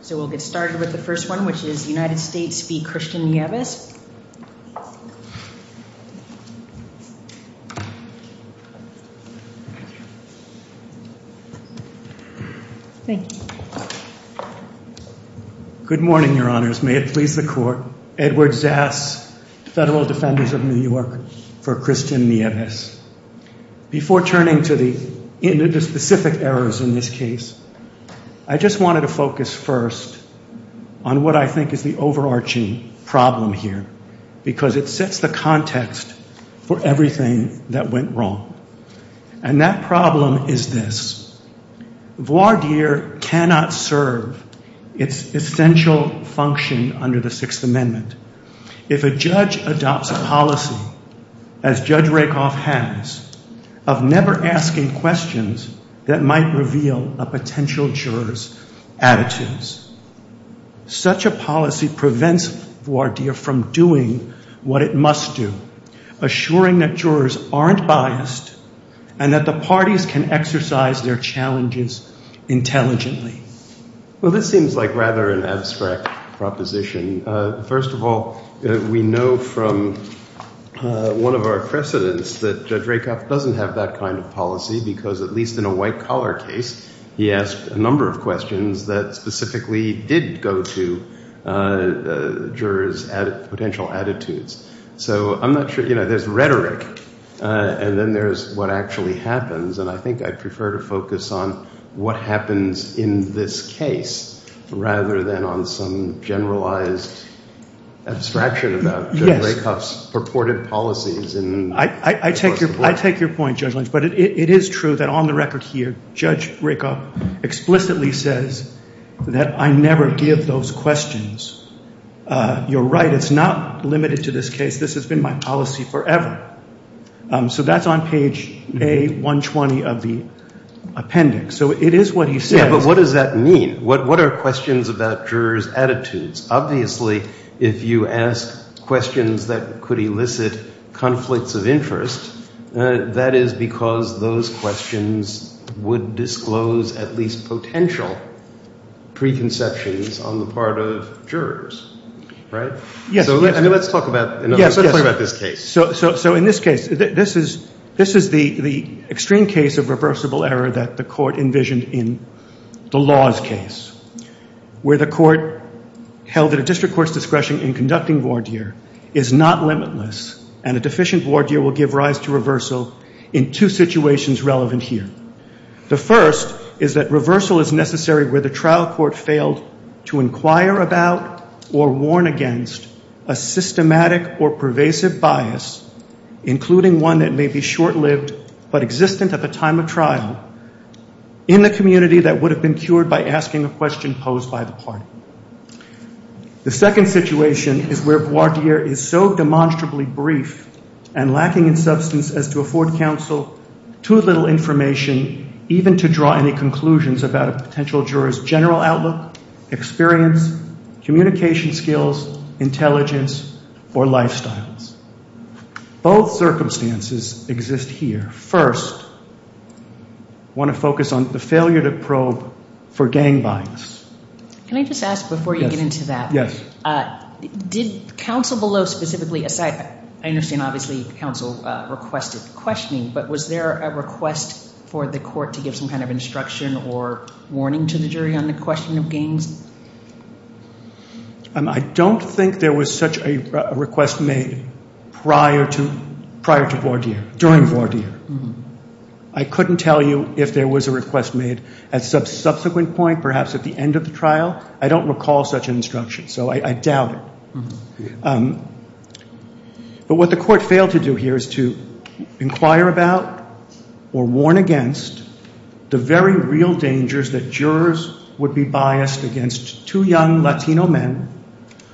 So we'll get started with the first one, which is United States v. Christian Nieves. Good morning, Your Honors. May it please the Court, Edward Zas, Federal Defenders of New York, for Christian Nieves. Before turning to the specific errors in this case, I just wanted to focus first on what I think is the overarching problem here, because it sets the context for everything that went wrong. And that problem is this. of never asking questions that might reveal a potential juror's attitudes. Such a policy prevents voir dire from doing what it must do, assuring that jurors aren't biased and that the parties can exercise their challenges intelligently. Well, this seems like rather an abstract proposition. First of all, we know from one of our precedents that Judge Rakoff doesn't have that kind of policy because, at least in a white-collar case, he asked a number of questions that specifically did go to jurors' potential attitudes. So I'm not sure, you know, there's rhetoric, and then there's what actually happens, and I think I'd prefer to focus on what happens in this case rather than on some generalized abstraction about Judge Rakoff's purported policies. I take your point, Judge Lynch, but it is true that on the record here, Judge Rakoff explicitly says that I never give those questions. You're right, it's not limited to this case. This has been my policy forever. So that's on page A120 of the appendix. So it is what he says. Yeah, but what does that mean? What are questions about jurors' attitudes? Obviously, if you ask questions that could elicit conflicts of interest, that is because those questions would disclose at least potential preconceptions on the part of jurors, right? Yes. So let's talk about this case. So in this case, this is the extreme case of reversible error that the court envisioned in the laws case, where the court held that a district court's discretion in conducting voir dire is not limitless, and a deficient voir dire will give rise to reversal in two situations relevant here. The first is that reversal is necessary where the trial court failed to inquire about or warn against a systematic or pervasive bias, including one that may be short-lived but existent at the time of trial, in the community that would have been cured by asking a question posed by the party. The second situation is where voir dire is so demonstrably brief and lacking in substance as to afford counsel too little information, even to draw any conclusions about a potential juror's general outlook, experience, communication skills, intelligence, or lifestyles. Both circumstances exist here. First, I want to focus on the failure to probe for gang bias. Can I just ask before you get into that? Yes. Did counsel below specifically, aside, I understand obviously counsel requested questioning, but was there a request for the court to give some kind of instruction or warning to the jury on the question of gangs? I don't think there was such a request made prior to voir dire, during voir dire. I couldn't tell you if there was a request made at some subsequent point, perhaps at the end of the trial. I don't recall such an instruction, so I doubt it. But what the court failed to do here is to inquire about or warn against the very real dangers that jurors would be biased against two young Latino men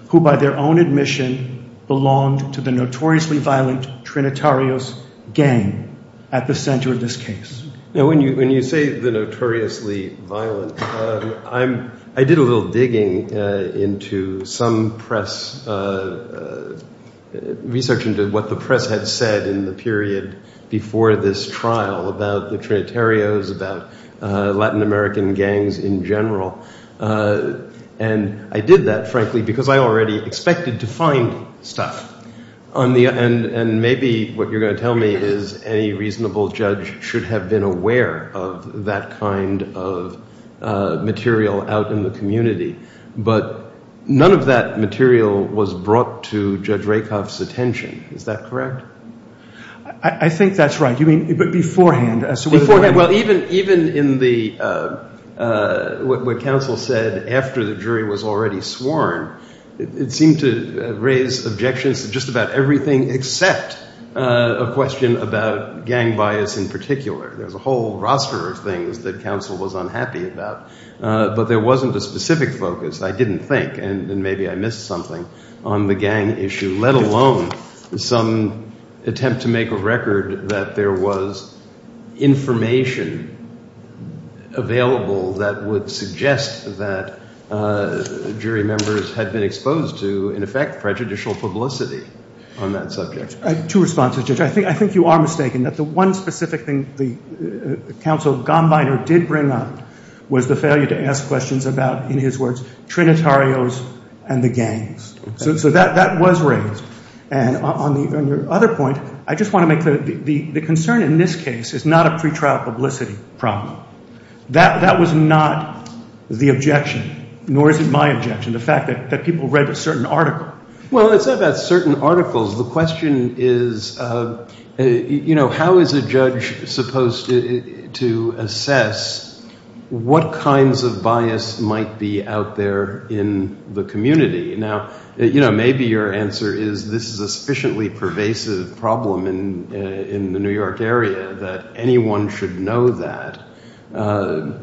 who by their own admission belonged to the notoriously violent Trinitarios gang at the center of this case. When you say the notoriously violent, I did a little digging into some press, researching what the press had said in the period before this trial about the Trinitarios, about Latin American gangs in general. And I did that, frankly, because I already expected to find stuff. And maybe what you're going to tell me is any reasonable judge should have been aware of that kind of material out in the community, but none of that material was brought to Judge Rakoff's attention. Is that correct? I think that's right. You mean beforehand? Beforehand. Well, even in what counsel said after the jury was already sworn, it seemed to raise objections to just about everything except a question about gang bias in particular. There was a whole roster of things that counsel was unhappy about. But there wasn't a specific focus, I didn't think, and maybe I missed something on the gang issue, let alone some attempt to make a record that there was information available that would suggest that jury members had been exposed to, in effect, prejudicial publicity on that subject. I have two responses, Judge. I think you are mistaken that the one specific thing that counsel Gombiner did bring up was the failure to ask questions about, in his words, Trinitarios and the gangs. So that was raised. And on your other point, I just want to make clear, the concern in this case is not a pretrial publicity problem. That was not the objection, nor is it my objection, the fact that people read a certain article. Well, it's not about certain articles. The question is, you know, how is a judge supposed to assess what kinds of bias might be out there in the community? Now, you know, maybe your answer is this is a sufficiently pervasive problem in the New York area that anyone should know that. And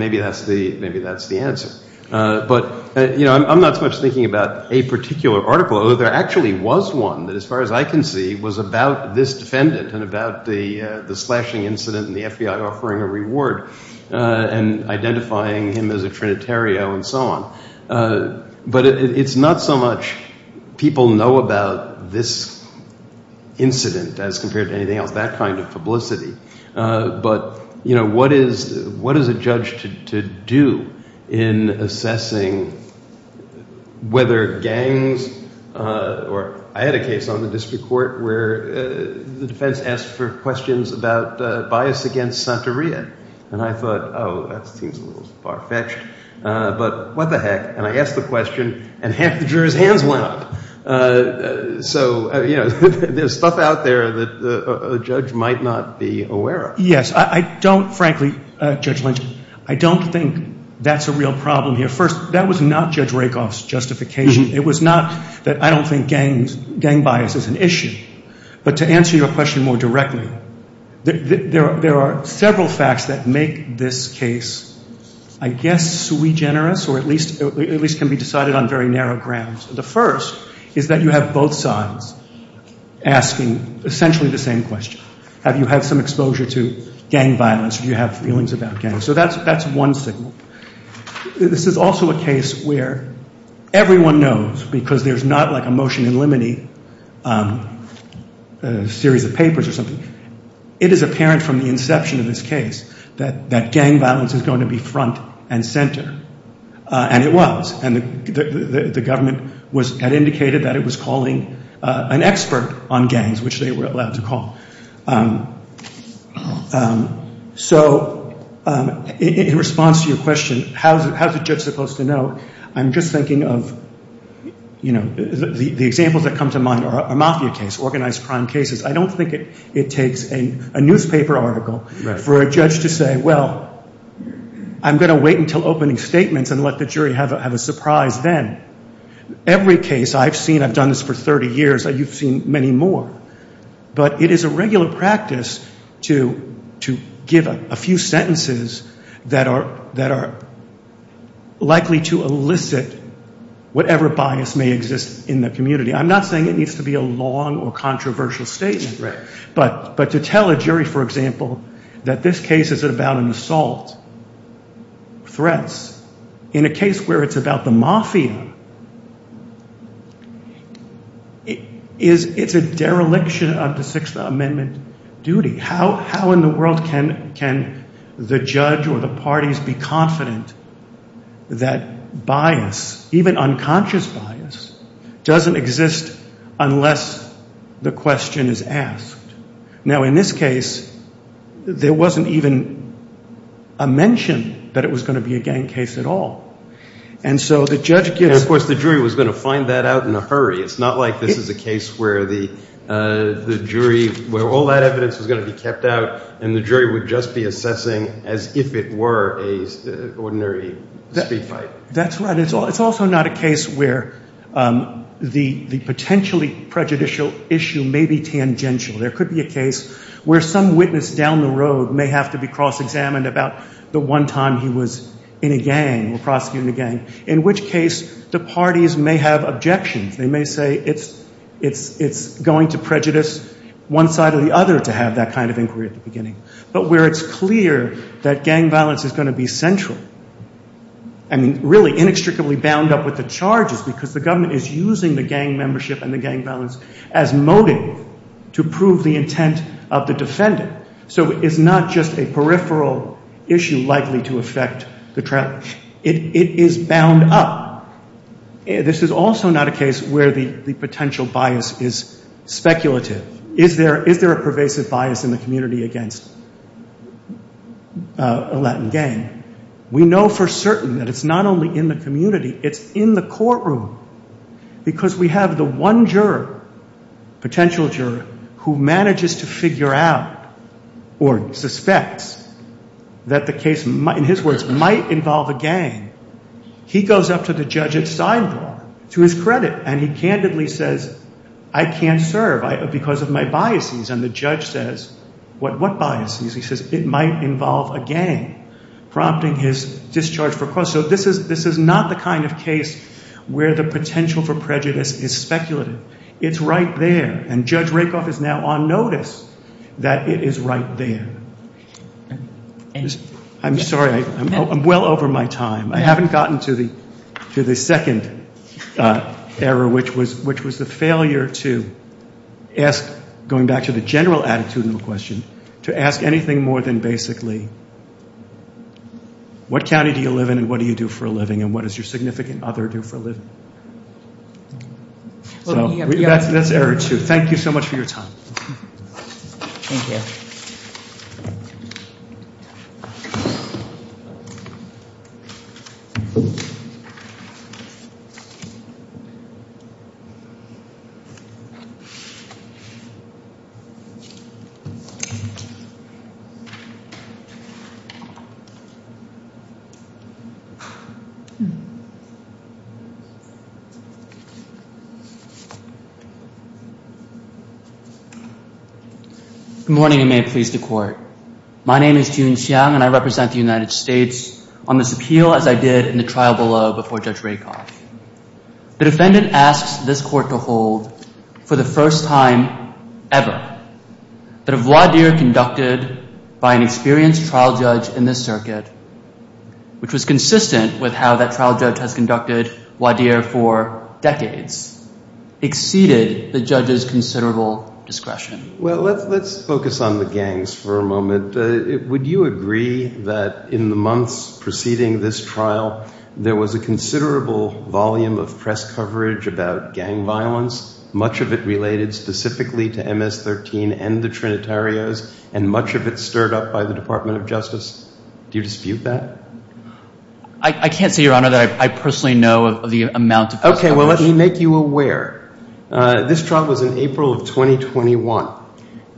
maybe that's the answer. But, you know, I'm not so much thinking about a particular article, although there actually was one that, as far as I can see, was about this defendant and about the slashing incident and the FBI offering a reward and identifying him as a Trinitario and so on. But it's not so much people know about this incident as compared to anything else, that kind of publicity. But, you know, what is a judge to do in assessing whether gangs or – I had a case on the district court where the defense asked for questions about bias against Santa Maria. And I thought, oh, that seems a little far-fetched, but what the heck? And I asked the question, and half the jurors' hands went up. So, you know, there's stuff out there that a judge might not be aware of. Yes, I don't – frankly, Judge Lynch, I don't think that's a real problem here. First, that was not Judge Rakoff's justification. It was not that I don't think gang bias is an issue. But to answer your question more directly, there are several facts that make this case, I guess, sui generis or at least can be decided on very narrow grounds. The first is that you have both sides asking essentially the same question. Have you had some exposure to gang violence? Do you have feelings about gangs? So that's one signal. This is also a case where everyone knows, because there's not like a motion in limine, a series of papers or something. It is apparent from the inception of this case that gang violence is going to be front and center, and it was. And the government had indicated that it was calling an expert on gangs, which they were allowed to call. So in response to your question, how is a judge supposed to know, I'm just thinking of, you know, the examples that come to mind are a mafia case, organized crime cases. I don't think it takes a newspaper article for a judge to say, well, I'm going to wait until opening statements and let the jury have a surprise then. Every case I've seen – I've done this for 30 years. You've seen many more. But it is a regular practice to give a few sentences that are likely to elicit whatever bias may exist in the community. I'm not saying it needs to be a long or controversial statement. But to tell a jury, for example, that this case is about an assault, threats, in a case where it's about the mafia, it's a dereliction of the Sixth Amendment duty. How in the world can the judge or the parties be confident that bias, even unconscious bias, doesn't exist unless the question is asked? Now, in this case, there wasn't even a mention that it was going to be a gang case at all. And so the judge gives – And, of course, the jury was going to find that out in a hurry. It's not like this is a case where the jury – where all that evidence was going to be kept out and the jury would just be assessing as if it were an ordinary speed fight. That's right. It's also not a case where the potentially prejudicial issue may be tangential. There could be a case where some witness down the road may have to be cross-examined about the one time he was in a gang or prosecuting a gang, in which case the parties may have objections. They may say it's going to prejudice one side or the other to have that kind of inquiry at the beginning. But where it's clear that gang violence is going to be central and really inextricably bound up with the charges because the government is using the gang membership and the gang violence as motive to prove the intent of the defendant. So it's not just a peripheral issue likely to affect the trial. It is bound up. This is also not a case where the potential bias is speculative. Is there a pervasive bias in the community against a Latin gang? We know for certain that it's not only in the community. It's in the courtroom because we have the one juror, potential juror, who manages to figure out or suspects that the case, in his words, might involve a gang. He goes up to the judge at sidebar, to his credit, and he candidly says, I can't serve because of my biases. And the judge says, what biases? He says it might involve a gang, prompting his discharge for cross. So this is not the kind of case where the potential for prejudice is speculative. It's right there, and Judge Rakoff is now on notice that it is right there. I'm sorry. I'm well over my time. I haven't gotten to the second error, which was the failure to ask, going back to the general attitudinal question, to ask anything more than basically, what county do you live in and what do you do for a living, and what does your significant other do for a living? That's error two. Thank you so much for your time. Thank you. Good morning, and may it please the court. My name is Jun Xiang, and I represent the United States on this appeal, as I did in the trial below before Judge Rakoff. The defendant asks this court to hold, for the first time ever, that a voir dire conducted by an experienced trial judge in this circuit, which was consistent with how that trial judge has conducted voir dire for decades, exceeded the judge's considerable discretion. Well, let's focus on the gangs for a moment. Would you agree that in the months preceding this trial, there was a considerable volume of press coverage about gang violence, much of it related specifically to MS-13 and the Trinitarios, and much of it stirred up by the Department of Justice? Do you dispute that? I can't say, Your Honor, that I personally know of the amount of press coverage. Okay, well, let me make you aware. This trial was in April of 2021.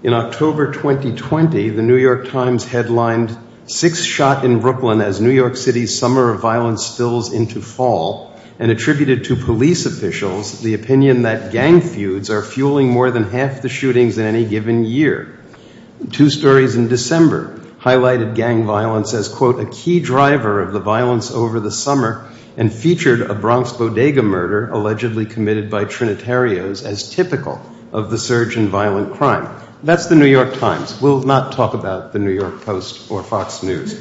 In October 2020, the New York Times headlined, Six Shot in Brooklyn as New York City's Summer of Violence Spills into Fall, and attributed to police officials the opinion that gang feuds are fueling more than half the shootings in any given year. Two stories in December highlighted gang violence as, quote, a key driver of the violence over the summer and featured a Bronx bodega murder allegedly committed by Trinitarios as typical of the surge in violent crime. That's the New York Times. We'll not talk about the New York Post or Fox News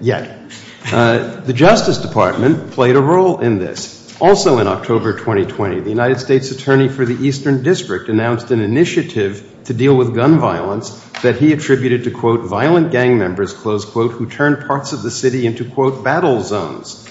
yet. The Justice Department played a role in this. Also in October 2020, the United States Attorney for the Eastern District announced an initiative to deal with gun violence that he attributed to, quote, violent gang members, close quote, who turned parts of the city into, quote, battle zones.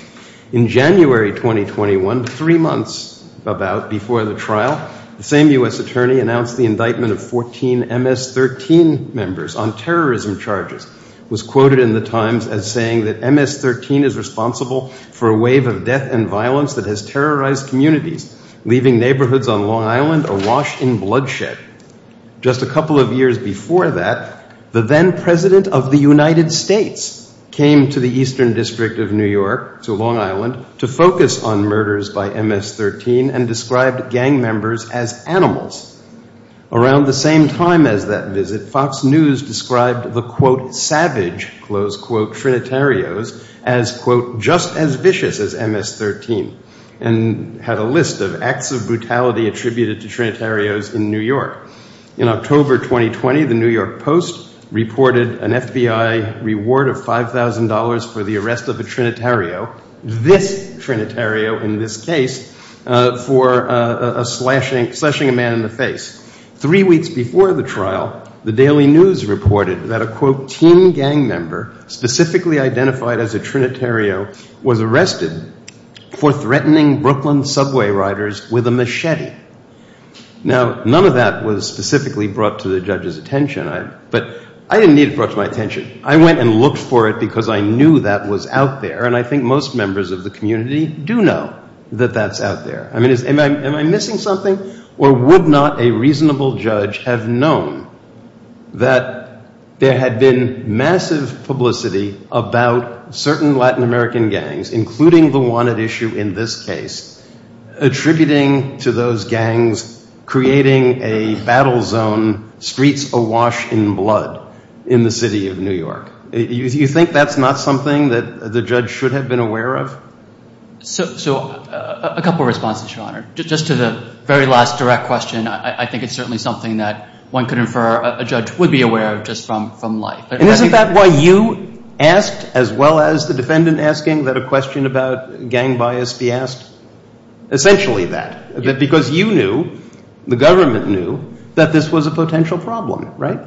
In January 2021, three months about before the trial, the same U.S. attorney announced the indictment of 14 MS-13 members on terrorism charges. It was quoted in the Times as saying that MS-13 is responsible for a wave of death and violence that has terrorized communities, leaving neighborhoods on Long Island awash in bloodshed. Just a couple of years before that, the then president of the United States came to the Eastern District of New York, to Long Island, to focus on murders by MS-13 and described gang members as animals. Around the same time as that visit, Fox News described the, quote, savage, close quote, Trinitarios as, quote, just as vicious as MS-13 and had a list of acts of brutality attributed to Trinitarios in New York. In October 2020, the New York Post reported an FBI reward of $5,000 for the arrest of a Trinitario, this Trinitario in this case, for slashing a man in the face. Three weeks before the trial, the Daily News reported that a, quote, teen gang member specifically identified as a Trinitario was arrested for threatening Brooklyn subway riders with a machete. Now, none of that was specifically brought to the judge's attention, but I didn't need it brought to my attention. I went and looked for it because I knew that was out there, and I think most members of the community do know that that's out there. I mean, am I missing something? Or would not a reasonable judge have known that there had been massive publicity about certain Latin American gangs, including the wanted issue in this case, attributing to those gangs, creating a battle zone, streets awash in blood in the city of New York? Do you think that's not something that the judge should have been aware of? So a couple of responses, Your Honor. Just to the very last direct question, I think it's certainly something that one could infer a judge would be aware of just from life. And isn't that why you asked, as well as the defendant asking, that a question about gang bias be asked? Essentially that, because you knew, the government knew, that this was a potential problem, right?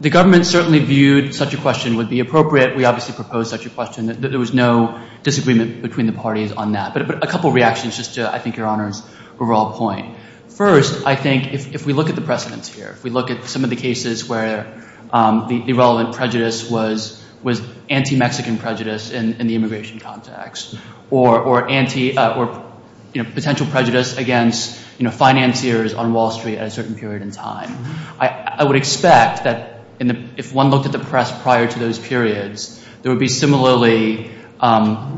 The government certainly viewed such a question would be appropriate. We obviously proposed such a question. There was no disagreement between the parties on that. But a couple of reactions just to, I think, Your Honor's overall point. First, I think if we look at the precedents here, if we look at some of the cases where the relevant prejudice was anti-Mexican prejudice in the immigration context, or potential prejudice against financiers on Wall Street at a certain period in time, I would expect that if one looked at the press prior to those periods, there would be similarly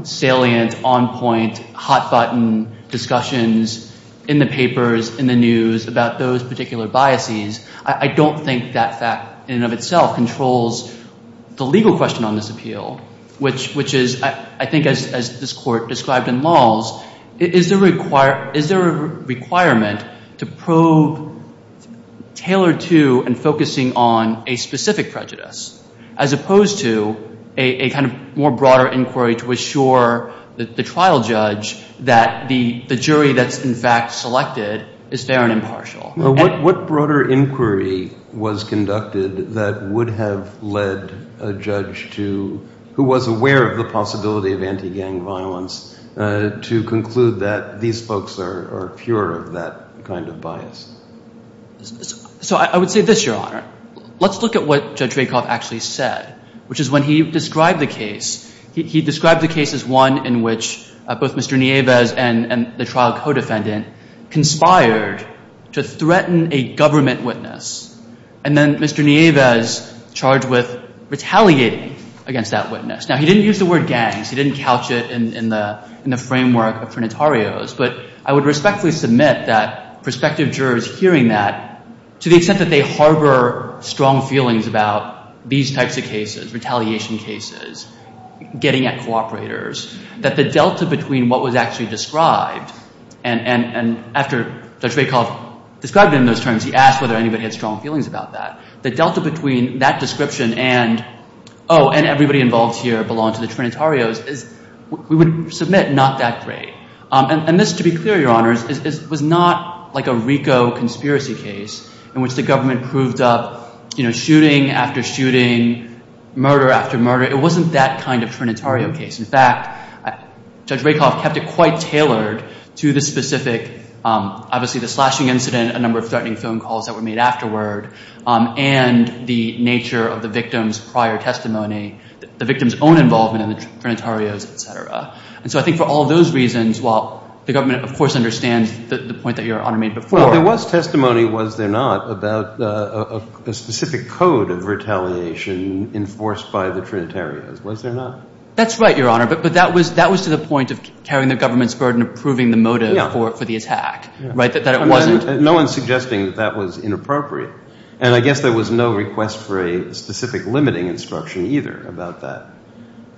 salient, on-point, hot-button discussions in the papers, in the news, about those particular biases. I don't think that fact in and of itself controls the legal question on this appeal, which is, I think, as this Court described in Lawles, is there a requirement to probe tailored to and focusing on a specific prejudice, as opposed to a kind of more broader inquiry to assure the trial judge that the jury that's in fact selected is fair and impartial? What broader inquiry was conducted that would have led a judge who was aware of the possibility of anti-gang violence to conclude that these folks are pure of that kind of bias? So I would say this, Your Honor. Let's look at what Judge Rakoff actually said, which is when he described the case, he described the case as one in which both Mr. Nieves and the trial co-defendant conspired to threaten a government witness, and then Mr. Nieves charged with retaliating against that witness. Now, he didn't use the word gangs. He didn't couch it in the framework of Trinitarios. But I would respectfully submit that prospective jurors hearing that, to the extent that they harbor strong feelings about these types of cases, retaliation cases, getting at cooperators, that the delta between what was actually described, and after Judge Rakoff described it in those terms, he asked whether anybody had strong feelings about that, the delta between that description and, oh, and everybody involved here belonged to the Trinitarios, we would submit not that great. And this, to be clear, Your Honors, was not like a RICO conspiracy case in which the government proved up, you know, shooting after shooting, murder after murder. It wasn't that kind of Trinitario case. In fact, Judge Rakoff kept it quite tailored to the specific, obviously, the slashing incident, a number of threatening phone calls that were made afterward, and the nature of the victim's prior testimony, the victim's own involvement in the Trinitarios, et cetera. And so I think for all those reasons, while the government, of course, understands the point that Your Honor made before. Well, there was testimony, was there not, about a specific code of retaliation enforced by the Trinitarios, was there not? That's right, Your Honor. But that was to the point of carrying the government's burden of proving the motive for the attack, right, that it wasn't. No one's suggesting that that was inappropriate. And I guess there was no request for a specific limiting instruction either about that.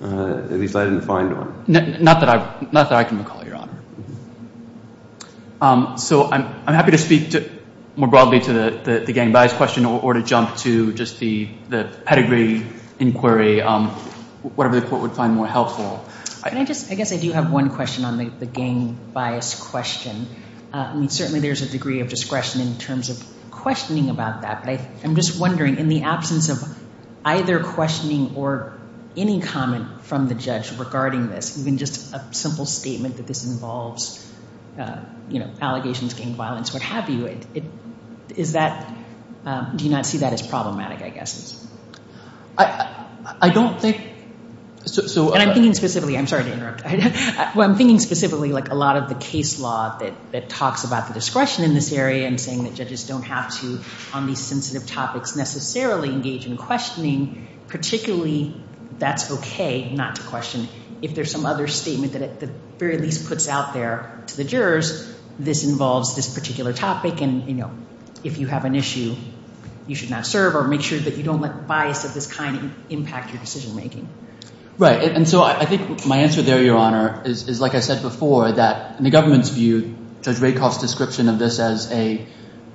At least I didn't find one. Not that I can recall, Your Honor. So I'm happy to speak more broadly to the gang bias question or to jump to just the pedigree inquiry, whatever the court would find more helpful. Can I just, I guess I do have one question on the gang bias question. I mean, certainly there's a degree of discretion in terms of questioning about that, but I'm just wondering in the absence of either questioning or any comment from the judge regarding this, even just a simple statement that this involves, you know, allegations of gang violence, what have you, is that, do you not see that as problematic, I guess? I don't think so. And I'm thinking specifically, I'm sorry to interrupt. Well, I'm thinking specifically like a lot of the case law that talks about the discretion in this area and saying that judges don't have to on these sensitive topics necessarily engage in questioning, particularly that's okay not to question. If there's some other statement that at the very least puts out there to the jurors, this involves this particular topic and, you know, if you have an issue, you should not serve or make sure that you don't let bias of this kind impact your decision making. Right. And so I think my answer there, Your Honor, is like I said before, that in the government's view, Judge Rakoff's description of this as a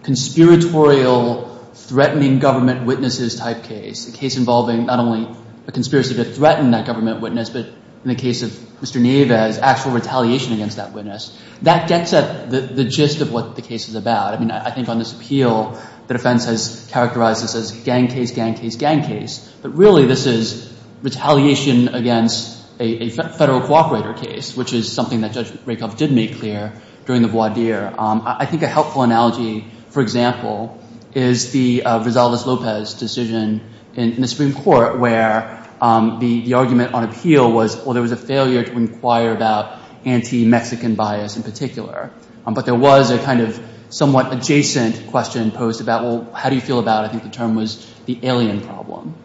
conspiratorial, threatening government witnesses type case, a case involving not only a conspiracy to threaten that government witness, but in the case of Mr. Nieves, actual retaliation against that witness. That gets at the gist of what the case is about. I mean, I think on this appeal, the defense has characterized this as gang case, gang case, gang case, but really this is retaliation against a federal cooperator case, which is something that Judge Rakoff did make clear during the voir dire. I think a helpful analogy, for example, is the Rosales-Lopez decision in the Supreme Court where the argument on appeal was, well, there was a failure to inquire about anti-Mexican bias in particular. But there was a kind of somewhat adjacent question posed about, well, how do you feel about it? I think the term was the alien problem.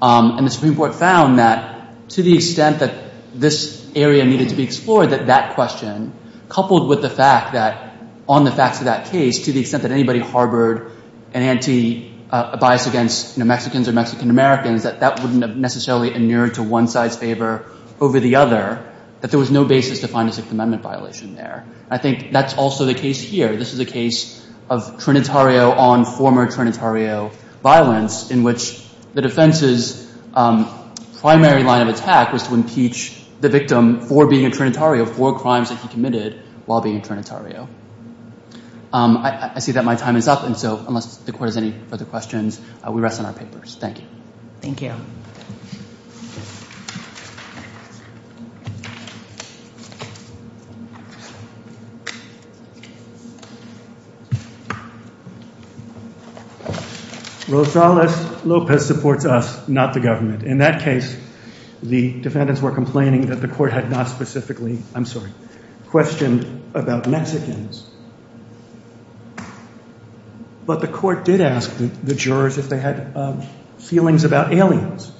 And the Supreme Court found that to the extent that this area needed to be explored, that that question coupled with the fact that on the facts of that case, to the extent that anybody harbored an anti-bias against Mexicans or Mexican-Americans, that that wouldn't have necessarily inured to one side's favor over the other, that there was no basis to find a Sixth Amendment violation there. I think that's also the case here. This is a case of Trinitario on former Trinitario violence, in which the defense's primary line of attack was to impeach the victim for being a Trinitario, for crimes that he committed while being a Trinitario. I see that my time is up, and so unless the Court has any further questions, we rest on our papers. Thank you. Thank you. Rosales-Lopez supports us, not the government. In that case, the defendants were complaining that the Court had not specifically, I'm sorry, questioned about Mexicans, but the Court did ask the jurors if they had feelings about aliens,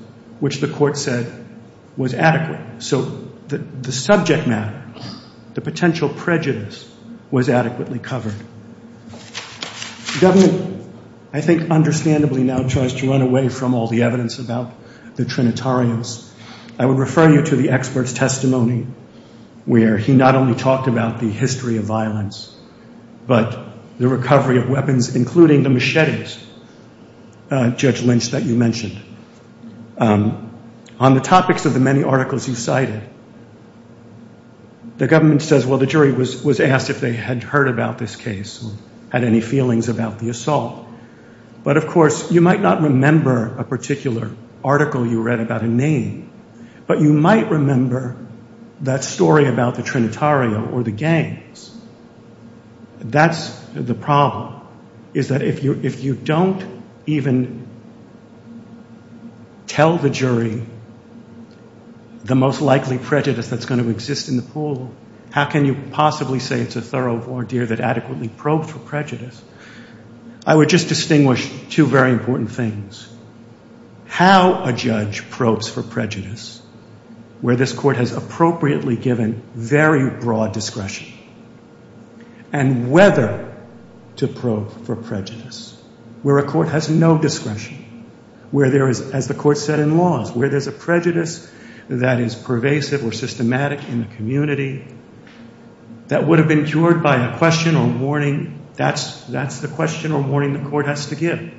which the Court said was adequate. So the subject matter, the potential prejudice, was adequately covered. The government, I think, understandably now tries to run away from all the evidence about the Trinitarios. I would refer you to the expert's testimony, where he not only talked about the history of violence, but the recovery of weapons, including the machetes, Judge Lynch, that you mentioned. On the topics of the many articles you cited, the government says, well, the jury was asked if they had heard about this case or had any feelings about the assault. But, of course, you might not remember a particular article you read about a name, but you might remember that story about the Trinitario or the gangs. That's the problem, is that if you don't even tell the jury the most likely prejudice that's going to exist in the pool, how can you possibly say it's a thorough voir dire that adequately probes for prejudice? I would just distinguish two very important things. How a judge probes for prejudice, where this Court has appropriately given very broad discretion, and whether to probe for prejudice, where a Court has no discretion, where there is, as the Court said in laws, where there's a prejudice that is pervasive or systematic in the community that would have been cured by a question or warning. That's the question or warning the Court has to give.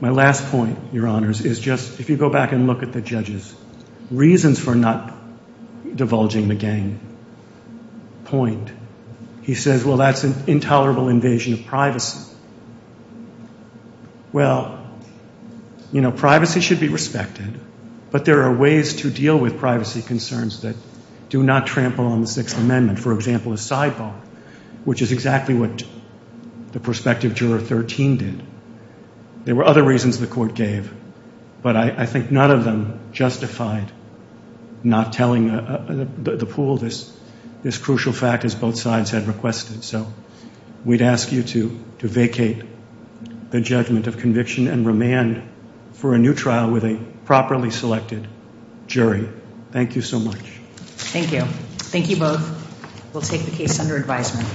My last point, Your Honors, is just, if you go back and look at the judge's reasons for not divulging the gang point, he says, well, that's an intolerable invasion of privacy. Well, you know, privacy should be respected, but there are ways to deal with privacy concerns that do not trample on the Sixth Amendment. For example, a sidebar, which is exactly what the prospective juror 13 did. There were other reasons the Court gave, but I think none of them justified not telling the pool this crucial fact, as both sides had requested. So we'd ask you to vacate the judgment of conviction and remand for a new trial with a properly selected jury. Thank you so much. Thank you. Thank you both. We'll take the case under advisement.